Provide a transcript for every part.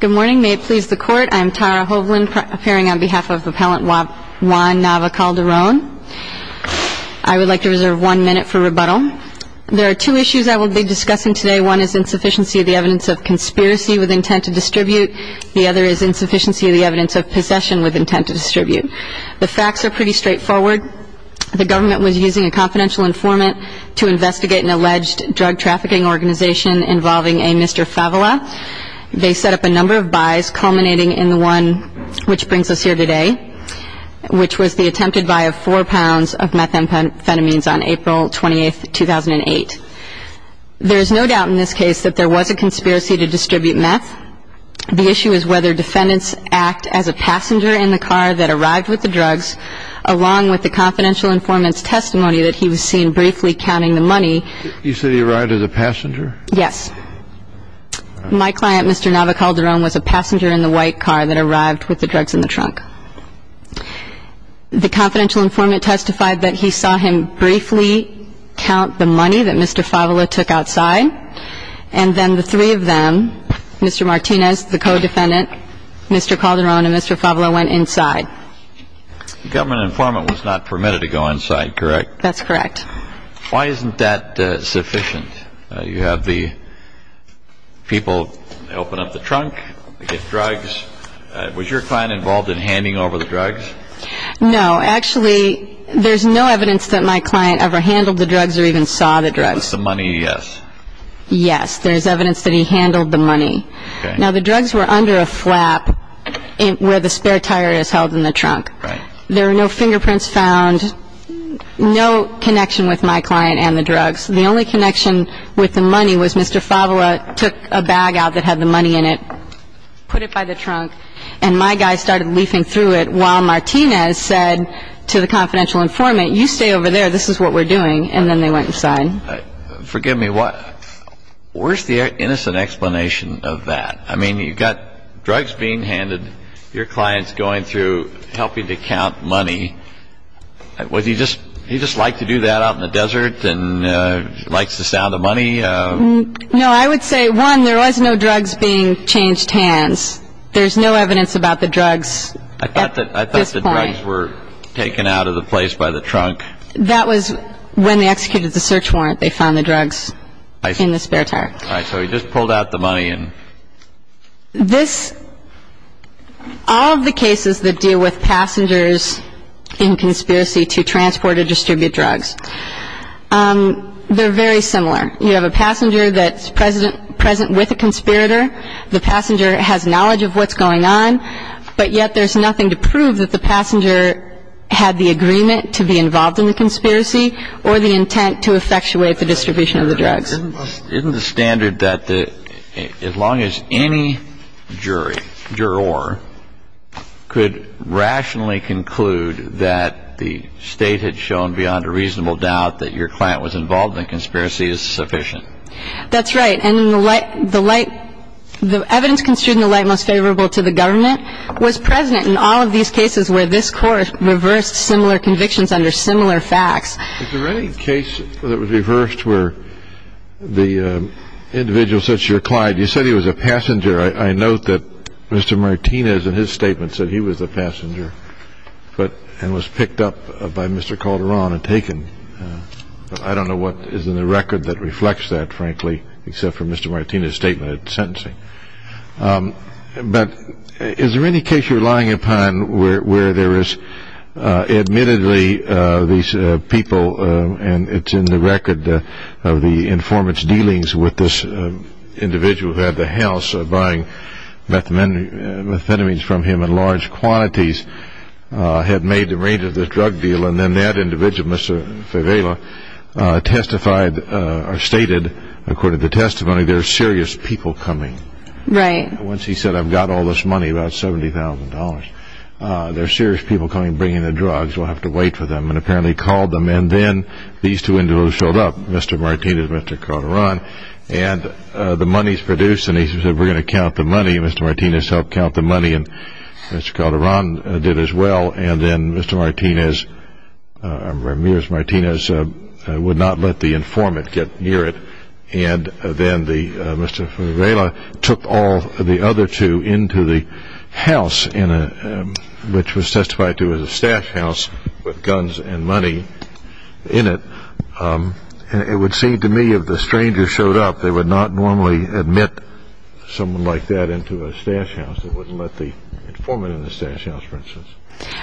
Good morning. May it please the Court, I am Tara Hovland, appearing on behalf of Appellant Juan Nava-Calderon. I would like to reserve one minute for rebuttal. There are two issues I will be discussing today. One is insufficiency of the evidence of conspiracy with intent to distribute. The other is insufficiency of the evidence of possession with intent to distribute. The facts are pretty straightforward. The government was using a confidential informant to investigate an alleged drug trafficking organization involving a Mr. Favela. They set up a number of buys culminating in the one which brings us here today, which was the attempted buy of four pounds of methamphetamines on April 28, 2008. There is no doubt in this case that there was a conspiracy to distribute meth. The issue is whether defendants act as a passenger in the car that arrived with the drugs, along with the confidential informant's testimony that he was seen briefly counting the money. You said he arrived as a passenger? Yes. My client, Mr. Nava-Calderon, was a passenger in the white car that arrived with the drugs in the trunk. The confidential informant testified that he saw him briefly count the money that Mr. Favela took outside, and then the three of them, Mr. Martinez, the co-defendant, Mr. Calderon, and Mr. Favela went inside. The government informant was not permitted to go inside, correct? That's correct. Why isn't that sufficient? You have the people, they open up the trunk, they get drugs. Was your client involved in handing over the drugs? No. Actually, there's no evidence that my client ever handled the drugs or even saw the drugs. With the money, yes. Yes. There's evidence that he handled the money. Okay. Now, the drugs were under a flap where the spare tire is held in the trunk. Right. There are no fingerprints found, no connection with my client and the drugs. The only connection with the money was Mr. Favela took a bag out that had the money in it, put it by the trunk, and my guy started leafing through it while Martinez said to the confidential informant, you stay over there, this is what we're doing, and then they went inside. Forgive me. Where's the innocent explanation of that? I mean, you've got drugs being handed, your client's going through helping to count money. Would he just like to do that out in the desert and likes the sound of money? No. I would say, one, there was no drugs being changed hands. There's no evidence about the drugs at this point. I thought the drugs were taken out of the place by the trunk. That was when they executed the search warrant. They found the drugs in the spare tire. All right. So he just pulled out the money. All of the cases that deal with passengers in conspiracy to transport or distribute drugs, they're very similar. You have a passenger that's present with a conspirator. The passenger has knowledge of what's going on, but yet there's nothing to prove that the passenger had the agreement to be involved in the conspiracy or the intent to effectuate the distribution of the drugs. Isn't the standard that as long as any jury, juror, could rationally conclude that the state had shown beyond a reasonable doubt that your client was involved in the conspiracy is sufficient? That's right. And the evidence construed in the light most favorable to the government was present in all of these cases where this court reversed similar convictions under similar facts. Is there any case that was reversed where the individual such your client, you said he was a passenger. I note that Mr. Martinez in his statement said he was a passenger, but and was picked up by Mr. Calderon and taken. I don't know what is in the record that reflects that, frankly, except for Mr. Martinez statement sentencing. But is there any case you're relying upon where there is admittedly these people, and it's in the record of the informant's dealings with this individual who had the house, buying methamphetamines from him in large quantities, had made the range of the drug deal, and then that individual, Mr. Fevella, testified or stated, according to the testimony, there are serious people coming. Right. Once he said, I've got all this money, about $70,000. There are serious people coming, bringing the drugs. We'll have to wait for them. And apparently he called them. And then these two individuals showed up, Mr. Martinez and Mr. Calderon. And the money's produced. And he said, we're going to count the money. And Mr. Martinez helped count the money, and Mr. Calderon did as well. And then Mr. Martinez, Ramirez Martinez, would not let the informant get near it. And then Mr. Fevella took all the other two into the house, which was testified to as a stash house with guns and money in it. And it would seem to me if the stranger showed up, they would not normally admit someone like that into a stash house. They wouldn't let the informant in the stash house, for instance.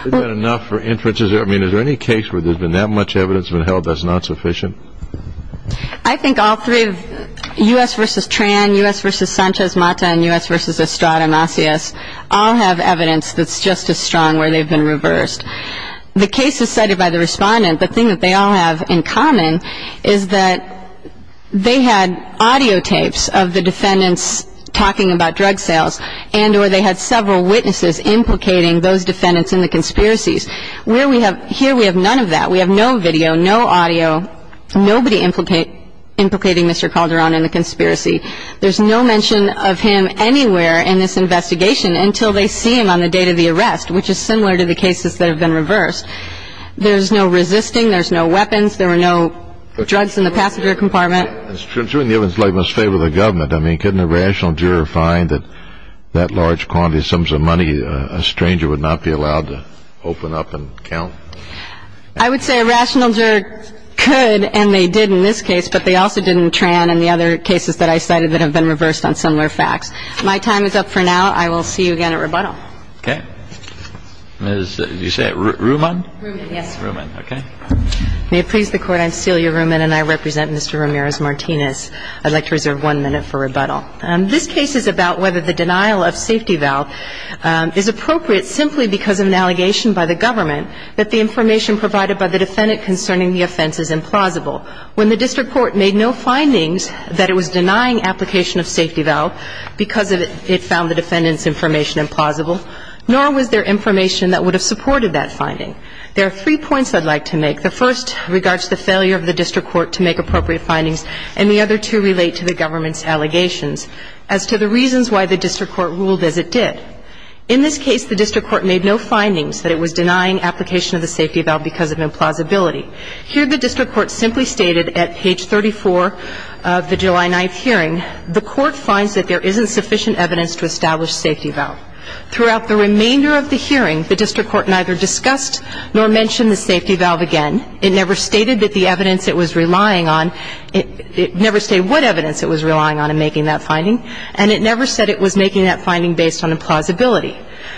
Is that enough for inferences? I mean, is there any case where there's been that much evidence that's been held that's not sufficient? I think all three, U.S. v. Tran, U.S. v. Sanchez Mata, and U.S. v. Estrada Macias, all have evidence that's just as strong where they've been reversed. The case is cited by the respondent. The thing that they all have in common is that they had audio tapes of the defendants talking about drug sales, and or they had several witnesses implicating those defendants in the conspiracies. Here we have none of that. We have no video, no audio, nobody implicating Mr. Calderon in the conspiracy. There's no mention of him anywhere in this investigation until they see him on the date of the arrest, which is similar to the cases that have been reversed. There's no resisting. There's no weapons. There were no drugs in the passenger compartment. It's true. It's true. And the evidence must favor the government. I mean, couldn't a rational juror find that that large quantity, sums of money, a stranger would not be allowed to open up and count? I would say a rational juror could, and they did in this case, but they also did in Tran and the other cases that I cited that have been reversed on similar facts. My time is up for now. I will see you again at rebuttal. Okay. Did you say it, Ruman? Ruman, yes. Ruman, okay. May it please the Court, I'm Celia Ruman, and I represent Mr. Ramirez-Martinez. I'd like to reserve one minute for rebuttal. This case is about whether the denial of safety valve is appropriate simply because of an allegation by the government that the information provided by the defendant concerning the offense is implausible. When the district court made no findings that it was denying application of safety valve because it found the defendant's information implausible, nor was there information that would have supported that finding. There are three points I'd like to make. The first regards the failure of the district court to make appropriate findings, and the other two relate to the government's allegations as to the reasons why the district court ruled as it did. In this case, the district court made no findings that it was denying application of the safety valve because of implausibility. Here, the district court simply stated at page 34 of the July 9th hearing, the court finds that there isn't sufficient evidence to establish safety valve. Throughout the remainder of the hearing, the district court neither discussed nor mentioned the safety valve again. It never stated that the evidence it was relying on, it never stated what evidence it was relying on in making that finding, and it never said it was making that finding based on implausibility.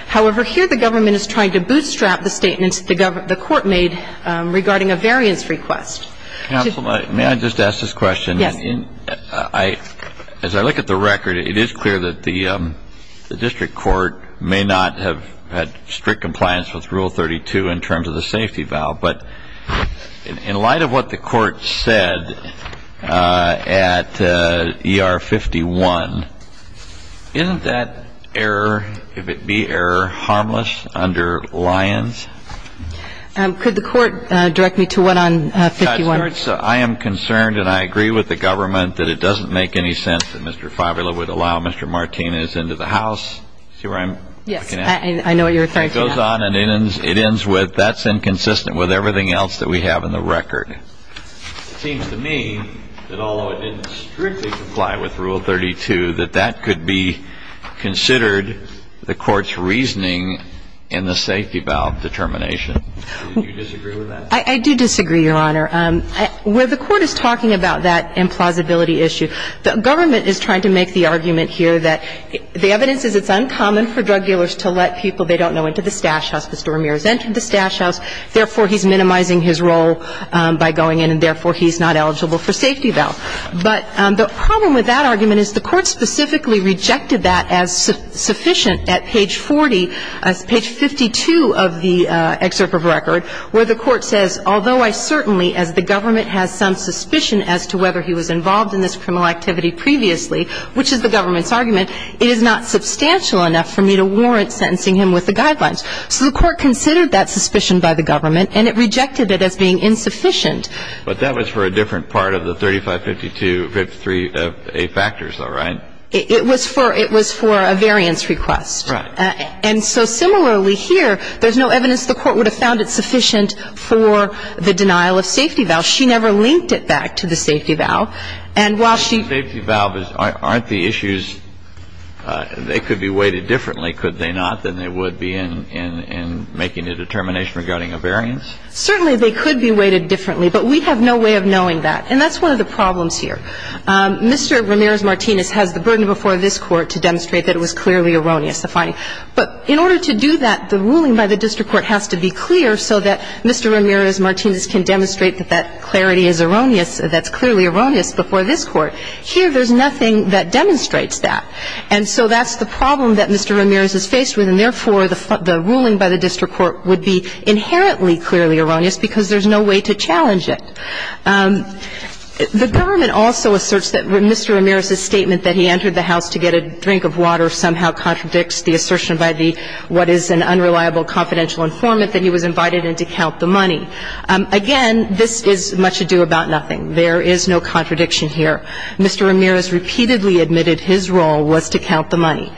However, here the government is trying to bootstrap the statements the court made regarding a variance request. Counsel, may I just ask this question? Yes. As I look at the record, it is clear that the district court may not have had strict compliance with Rule 32 in terms of the safety valve, but in light of what the court said at ER 51, isn't that error, if it be error, harmless under Lyons? Could the court direct me to what on 51? I am concerned, and I agree with the government, that it doesn't make any sense that Mr. Favula would allow Mr. Martinez into the house. See where I'm looking at? Yes. I know what you're referring to. It goes on and it ends with, that's inconsistent with everything else that we have in the record. It seems to me that although it didn't strictly comply with Rule 32, that that could be considered the court's reasoning in the safety valve determination. Do you disagree with that? I do disagree, Your Honor. Where the court is talking about that implausibility issue, the government is trying to make the argument here that the evidence is it's uncommon for drug dealers to let people they don't know into the stash house. Mr. Ramirez entered the stash house. Therefore, he's minimizing his role by going in, and therefore, he's not eligible for safety valve. But the problem with that argument is the court specifically rejected that as sufficient at page 40, page 52 of the excerpt of the record, where the court says, although I certainly, as the government has some suspicion as to whether he was involved in this criminal activity previously, which is the government's argument, it is not substantial enough for me to warrant sentencing him with the guidelines. So the court considered that suspicion by the government, and it rejected it as being insufficient. But that was for a different part of the 3552, 53A factors, though, right? It was for a variance request. Right. And so similarly here, there's no evidence the court would have found it sufficient for the denial of safety valve. She never linked it back to the safety valve. And while she ---- The safety valve, aren't the issues, they could be weighted differently, could they not, than they would be in making a determination regarding a variance? Certainly, they could be weighted differently, but we have no way of knowing that. And that's one of the problems here. Mr. Ramirez-Martinez has the burden before this Court to demonstrate that it was clearly erroneous, the finding. But in order to do that, the ruling by the district court has to be clear so that Mr. Ramirez-Martinez can demonstrate that that clarity is erroneous, that it's clearly erroneous before this Court. Here, there's nothing that demonstrates that. And so that's the problem that Mr. Ramirez is faced with, And therefore, the ruling by the district court would be inherently clearly erroneous because there's no way to challenge it. The government also asserts that Mr. Ramirez's statement that he entered the house to get a drink of water somehow contradicts the assertion by the what is an unreliable confidential informant that he was invited in to count the money. Again, this is much ado about nothing. There is no contradiction here. Mr. Ramirez repeatedly admitted his role was to count the money.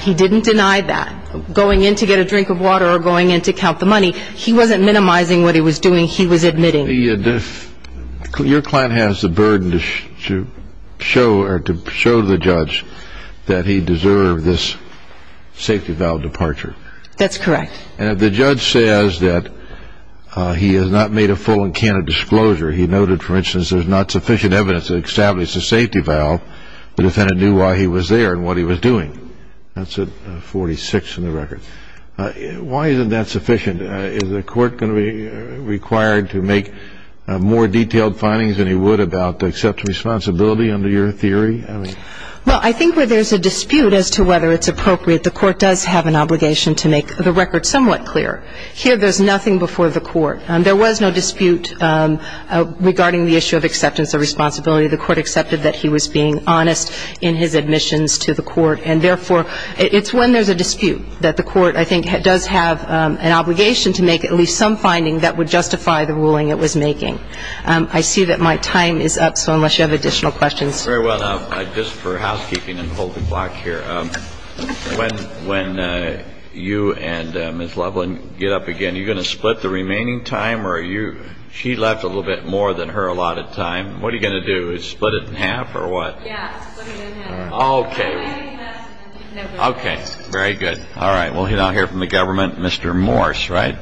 He didn't deny that. Going in to get a drink of water or going in to count the money, he wasn't minimizing what he was doing. He was admitting. Your client has the burden to show the judge that he deserved this safety valve departure. That's correct. And if the judge says that he has not made a full and candid disclosure, he noted, for instance, there's not sufficient evidence to establish the safety valve, the defendant knew why he was there and what he was doing. That's at 46 in the record. Why isn't that sufficient? Is the court going to be required to make more detailed findings than he would about the acceptance of responsibility under your theory? Well, I think where there's a dispute as to whether it's appropriate, the court does have an obligation to make the record somewhat clearer. Here, there's nothing before the court. There was no dispute regarding the issue of acceptance of responsibility. The court accepted that he was being honest in his admissions to the court. And, therefore, it's when there's a dispute that the court, I think, does have an obligation to make at least some finding that would justify the ruling it was making. I see that my time is up, so unless you have additional questions. Very well. Now, just for housekeeping and to hold the clock here, when you and Ms. Loveland get up again, are you going to split the remaining time or are you ‑‑ she left a little bit more than her allotted time. What are you going to do? Split it in half or what? Yeah, split it in half. Okay. Okay. Very good. All right. We'll now hear from the government. Mr. Morse, right?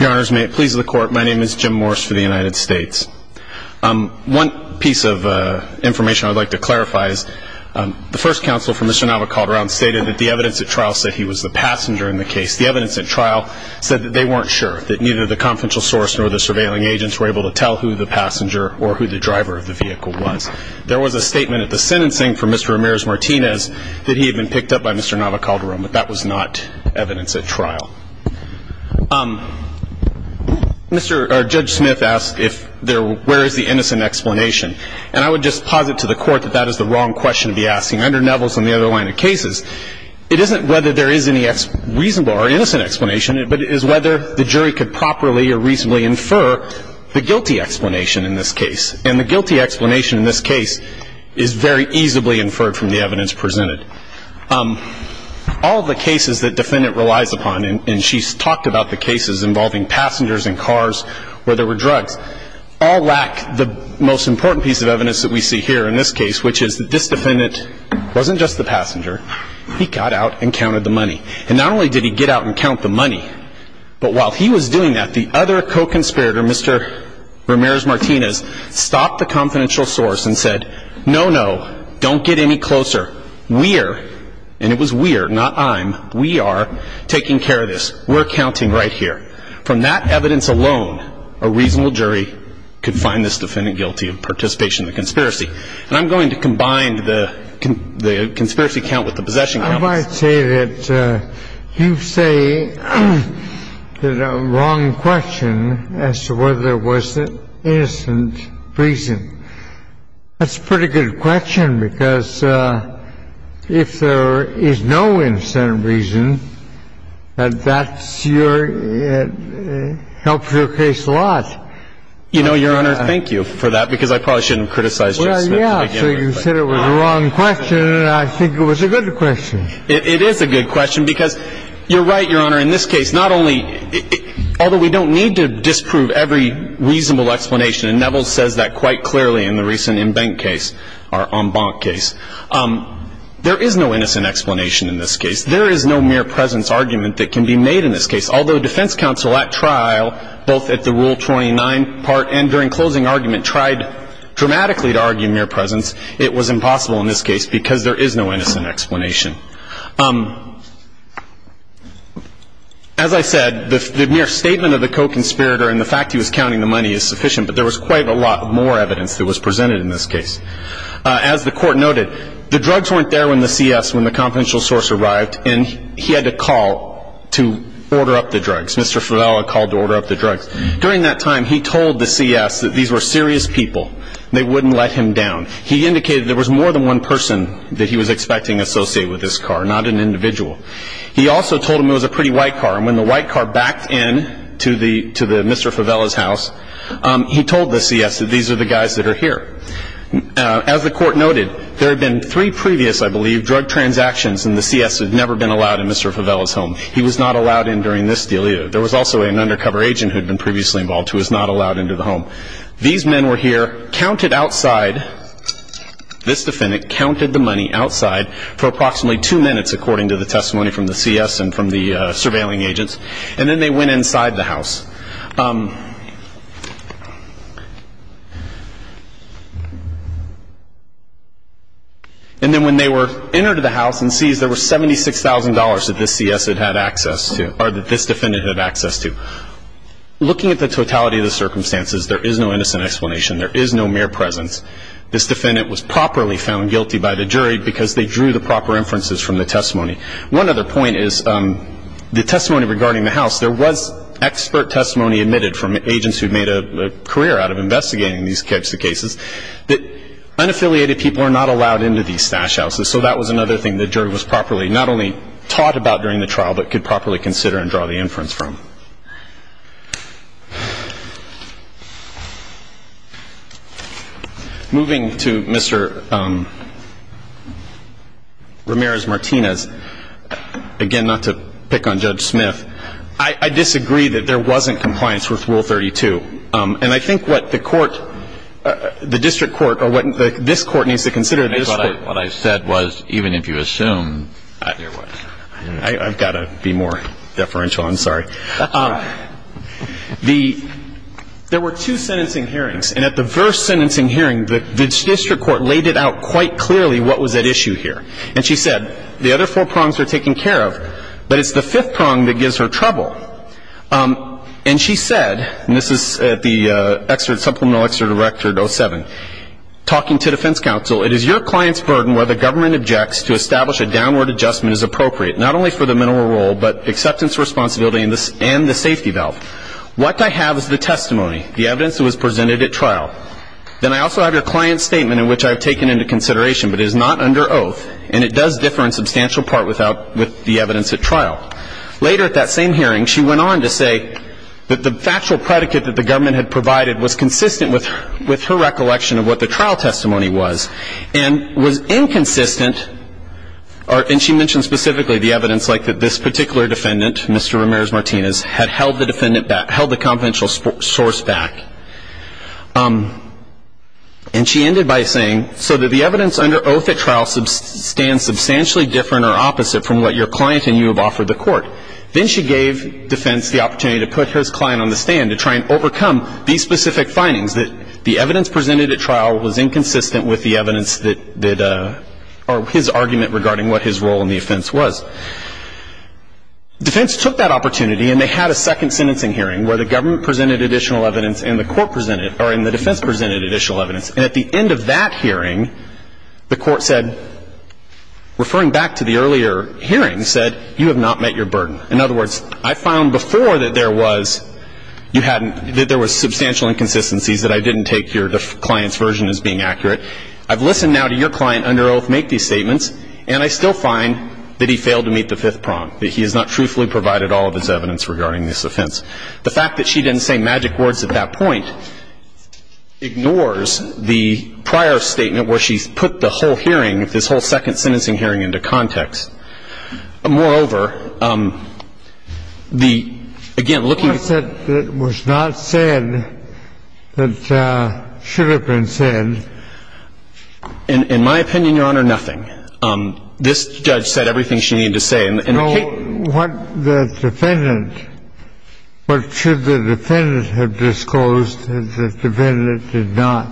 Your Honors, may it please the Court. My name is Jim Morse for the United States. One piece of information I would like to clarify is the first counsel for Mr. The evidence at trial said that they weren't sure, that neither the confidential source nor the surveilling agents were able to tell who the passenger or who the driver of the vehicle was. There was a statement at the sentencing for Mr. Ramirez-Martinez that he had been picked up by Mr. Nava Calderon, but that was not evidence at trial. Judge Smith asked where is the innocent explanation. And I would just posit to the Court that that is the wrong question to be asking. Under Nevelson, the other line of cases, it isn't whether there is any reasonable or innocent explanation, but it is whether the jury could properly or reasonably infer the guilty explanation in this case. And the guilty explanation in this case is very easily inferred from the evidence presented. All the cases that defendant relies upon, and she's talked about the cases involving passengers and cars where there were drugs, all lack the most important piece of evidence that we see here in this case, which is that this defendant wasn't just the passenger. He got out and counted the money. And not only did he get out and count the money, but while he was doing that, the other co-conspirator, Mr. Ramirez-Martinez, stopped the confidential source and said, no, no, don't get any closer. We're, and it was we're, not I'm, we are taking care of this. We're counting right here. From that evidence alone, a reasonable jury could find this defendant guilty of participation in the conspiracy. And I'm going to combine the conspiracy count with the possession count. I might say that you say that a wrong question as to whether there was an innocent reason. That's a pretty good question, because if there is no innocent reason, that's your, it helps your case a lot. You know, Your Honor, thank you for that, because I probably shouldn't have criticized Judge Smith. Well, yeah, so you said it was a wrong question, and I think it was a good question. It is a good question, because you're right, Your Honor, in this case, not only, although we don't need to disprove every reasonable explanation, and Neville says that quite clearly in the recent Embank case, our Embank case, there is no innocent explanation in this case. There is no mere presence argument that can be made in this case, although defense counsel at trial, both at the Rule 29 part and during closing argument, tried dramatically to argue mere presence. It was impossible in this case, because there is no innocent explanation. As I said, the mere statement of the co-conspirator and the fact he was counting the money is sufficient, but there was quite a lot more evidence that was presented in this case. As the court noted, the drugs weren't there when the CS, when the confidential source arrived, and he had to call to order up the drugs. Mr. Fevella called to order up the drugs. During that time, he told the CS that these were serious people. They wouldn't let him down. He indicated there was more than one person that he was expecting associated with this car, not an individual. He also told him it was a pretty white car, and when the white car backed into Mr. Fevella's house, he told the CS that these are the guys that are here. As the court noted, there had been three previous, I believe, drug transactions, and the CS had never been allowed in Mr. Fevella's home. He was not allowed in during this deal either. There was also an undercover agent who had been previously involved who was not allowed into the home. These men were here, counted outside. This defendant counted the money outside for approximately two minutes, according to the testimony from the CS and from the surveilling agents, and then they went inside the house. And then when they entered the house and seized, there was $76,000 that this defendant had access to. Looking at the totality of the circumstances, there is no innocent explanation. There is no mere presence. This defendant was properly found guilty by the jury because they drew the proper inferences from the testimony. One other point is the testimony regarding the house, there was expert testimony admitted from agents who had made a career out of investigating these types of cases, that unaffiliated people are not allowed into these stash houses. So that was another thing the jury was properly not only taught about during the trial, but could properly consider and draw the inference from. Moving to Mr. Ramirez-Martinez, again, not to pick on Judge Smith, I disagree that there wasn't compliance with Rule 32. And I think what the court, the district court, or what this court needs to consider this court. What I said was even if you assume there was. I've got to be more deferential. I'm sorry. There were two sentencing hearings. And at the first sentencing hearing, the district court laid it out quite clearly what was at issue here. And she said, the other four prongs are taken care of, but it's the fifth prong that gives her trouble. And she said, and this is at the supplemental extra directed 07, talking to defense counsel, it is your client's burden where the government objects to establish a downward adjustment as appropriate, not only for the minimal role, but acceptance, responsibility, and the safety valve. What I have is the testimony, the evidence that was presented at trial. Then I also have your client's statement in which I have taken into consideration, but it is not under oath, and it does differ in substantial part with the evidence at trial. Later at that same hearing, she went on to say that the factual predicate that the government had provided was consistent with her recollection of what the trial testimony was, and was inconsistent, and she mentioned specifically the evidence like that this particular defendant, Mr. Ramirez-Martinez, had held the defendant back, held the confidential source back. And she ended by saying, so that the evidence under oath at trial stands substantially different or opposite from what your client and you have offered the court. Then she gave defense the opportunity to put her client on the stand to try and overcome these specific findings, that the evidence presented at trial was inconsistent with the evidence that, or his argument regarding what his role in the offense was. Defense took that opportunity, and they had a second sentencing hearing where the government presented additional evidence and the court presented, or the defense presented additional evidence. And at the end of that hearing, the court said, referring back to the earlier hearing, said, you have not met your burden. In other words, I found before that there was substantial inconsistencies that I didn't take the client's version as being accurate. I've listened now to your client under oath make these statements, and I still find that he failed to meet the fifth prong, that he has not truthfully provided all of his evidence regarding this offense. The fact that she didn't say magic words at that point ignores the prior statement where she's put the whole hearing, this whole second sentencing hearing, into context. Moreover, the, again, looking at the... What was not said that should have been said? In my opinion, Your Honor, nothing. This judge said everything she needed to say. No. What the defendant, what should the defendant have disclosed that the defendant did not?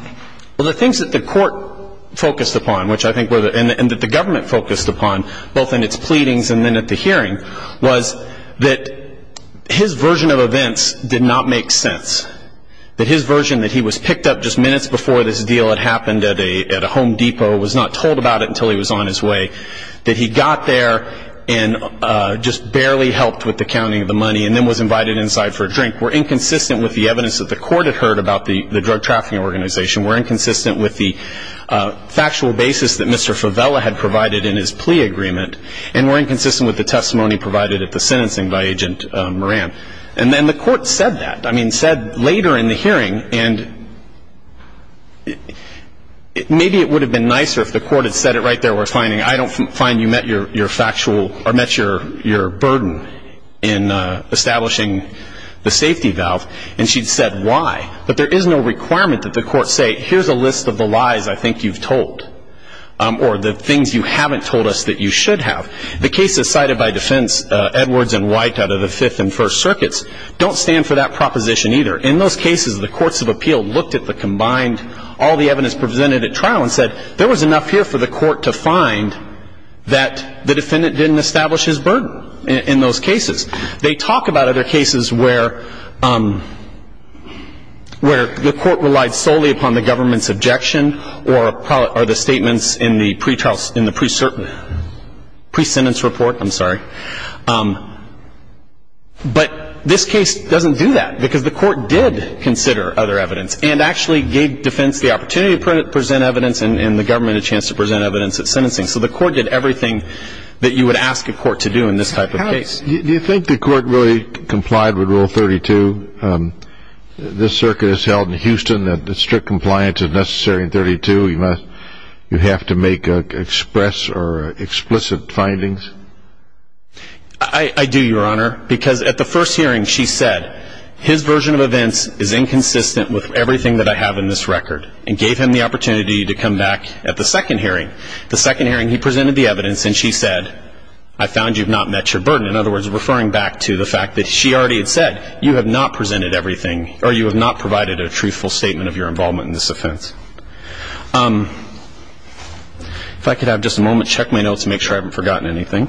Well, the things that the court focused upon, which I think were the, and that the government focused upon, both in its pleadings and then at the hearing, was that his version of events did not make sense, that his version that he was picked up just minutes before this deal had happened at a Home Depot, was not told about it until he was on his way, that he got there and just barely helped with the counting of the money and then was invited inside for a drink, were inconsistent with the evidence that the court had heard about the drug trafficking organization, were inconsistent with the factual basis that Mr. Fevella had provided in his plea agreement, and were inconsistent with the testimony provided at the sentencing by Agent Moran. And then the court said that, I mean, said later in the hearing, and maybe it would have been nicer if the court had said it right there, we're finding I don't find you met your factual or met your burden in establishing the safety valve, and she'd said why. But there is no requirement that the court say here's a list of the lies I think you've told, or the things you haven't told us that you should have. The cases cited by defense Edwards and White out of the Fifth and First Circuits don't stand for that proposition either. In those cases, the courts of appeal looked at the combined, all the evidence presented at trial and said there was enough here for the court to find that the defendant didn't establish his burden in those cases. They talk about other cases where the court relied solely upon the government's objection or the statements in the pre-sentence report. I'm sorry. But this case doesn't do that because the court did consider other evidence and actually gave defense the opportunity to present evidence and the government a chance to present evidence at sentencing. So the court did everything that you would ask a court to do in this type of case. Do you think the court really complied with Rule 32? This circuit is held in Houston. The strict compliance is necessary in 32. You have to make express or explicit findings. I do, Your Honor, because at the first hearing she said his version of events is inconsistent with everything that I have in this record and gave him the opportunity to come back at the second hearing. The second hearing he presented the evidence and she said I found you've not met your burden. In other words, referring back to the fact that she already had said you have not presented everything or you have not provided a truthful statement of your involvement in this offense. If I could have just a moment, check my notes to make sure I haven't forgotten anything.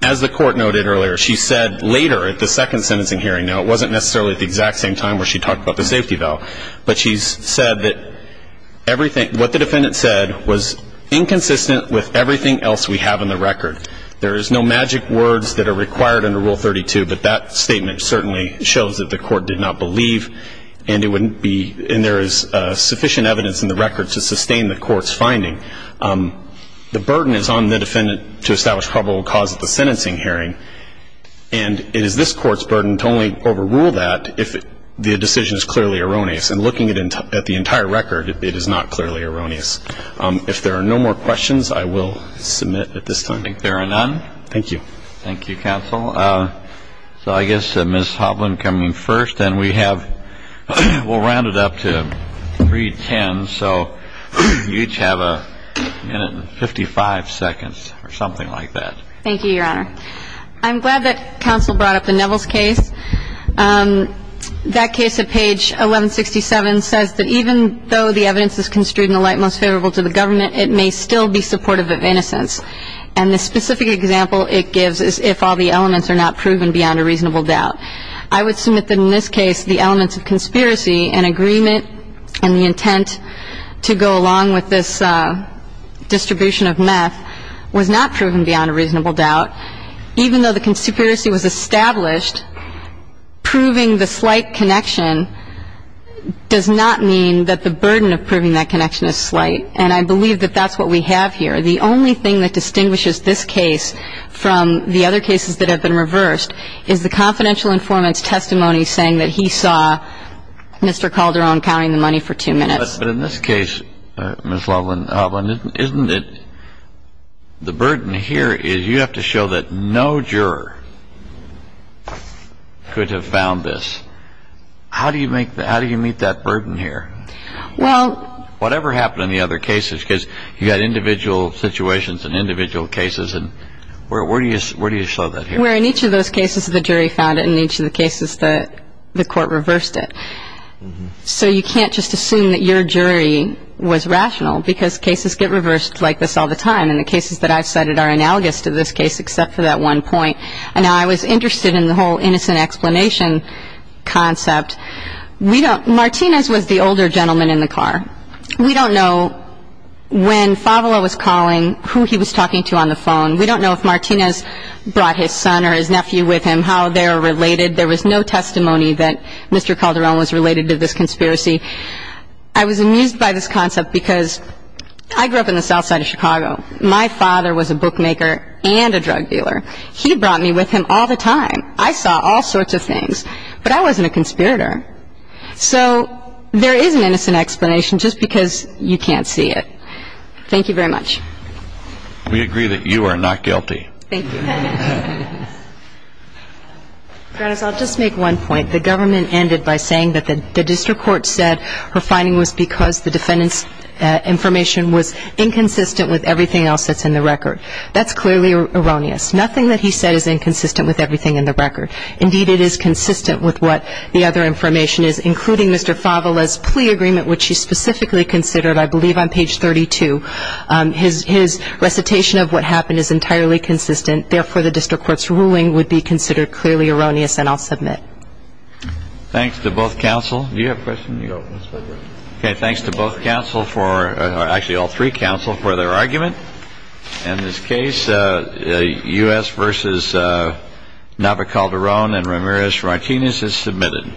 As the court noted earlier, she said later at the second sentencing hearing, now it wasn't necessarily at the exact same time where she talked about the safety valve, but she said that what the defendant said was inconsistent with everything else we have in the record. There is no magic words that are required under Rule 32. But that statement certainly shows that the court did not believe and there is sufficient evidence in the record to sustain the court's finding. The burden is on the defendant to establish probable cause at the sentencing hearing and it is this court's burden to only overrule that if the decision is clearly erroneous. And looking at the entire record, it is not clearly erroneous. If there are no more questions, I will submit at this time. I think there are none. Thank you. Thank you, counsel. So I guess Ms. Hovland coming first. And we have, we'll round it up to 310. So you each have a minute and 55 seconds or something like that. Thank you, Your Honor. I'm glad that counsel brought up the Neville's case. That case at page 1167 says that even though the evidence is construed in the light most favorable to the government, it may still be supportive of innocence. And the specific example it gives is if all the elements are not proven beyond a reasonable doubt. I would submit that in this case the elements of conspiracy and agreement and the intent to go along with this distribution of meth was not proven beyond a reasonable doubt. Even though the conspiracy was established, proving the slight connection does not mean that the burden of proving that connection is slight. And I believe that that's what we have here. The only thing that distinguishes this case from the other cases that have been reversed is the confidential informant's testimony saying that he saw Mr. Calderon counting the money for two minutes. But in this case, Ms. Hovland, isn't it the burden here is you have to show that no juror could have found this. How do you meet that burden here? Whatever happened in the other cases because you've got individual situations and individual cases. Where do you show that here? Where in each of those cases the jury found it and in each of the cases the court reversed it. So you can't just assume that your jury was rational because cases get reversed like this all the time. And the cases that I've cited are analogous to this case except for that one point. And now I was interested in the whole innocent explanation concept. Martinez was the older gentleman in the car. We don't know when Favula was calling who he was talking to on the phone. We don't know if Martinez brought his son or his nephew with him, how they're related. There was no testimony that Mr. Calderon was related to this conspiracy. I was amused by this concept because I grew up in the south side of Chicago. My father was a bookmaker and a drug dealer. He brought me with him all the time. I saw all sorts of things. But I wasn't a conspirator. So there is an innocent explanation just because you can't see it. Thank you very much. We agree that you are not guilty. Thank you. I'll just make one point. The government ended by saying that the district court said her finding was because the defendant's information was inconsistent with everything else that's in the record. That's clearly erroneous. Nothing that he said is inconsistent with everything in the record. Indeed, it is consistent with what the other information is, including Mr. Favula's plea agreement, which he specifically considered, I believe, on page 32. His recitation of what happened is entirely consistent. Therefore, the district court's ruling would be considered clearly erroneous, and I'll submit. Thanks to both counsel. Do you have a question? Okay, thanks to both counsel for or actually all three counsel for their argument. In this case, U.S. versus Nava Calderon and Ramirez-Martinez is submitted.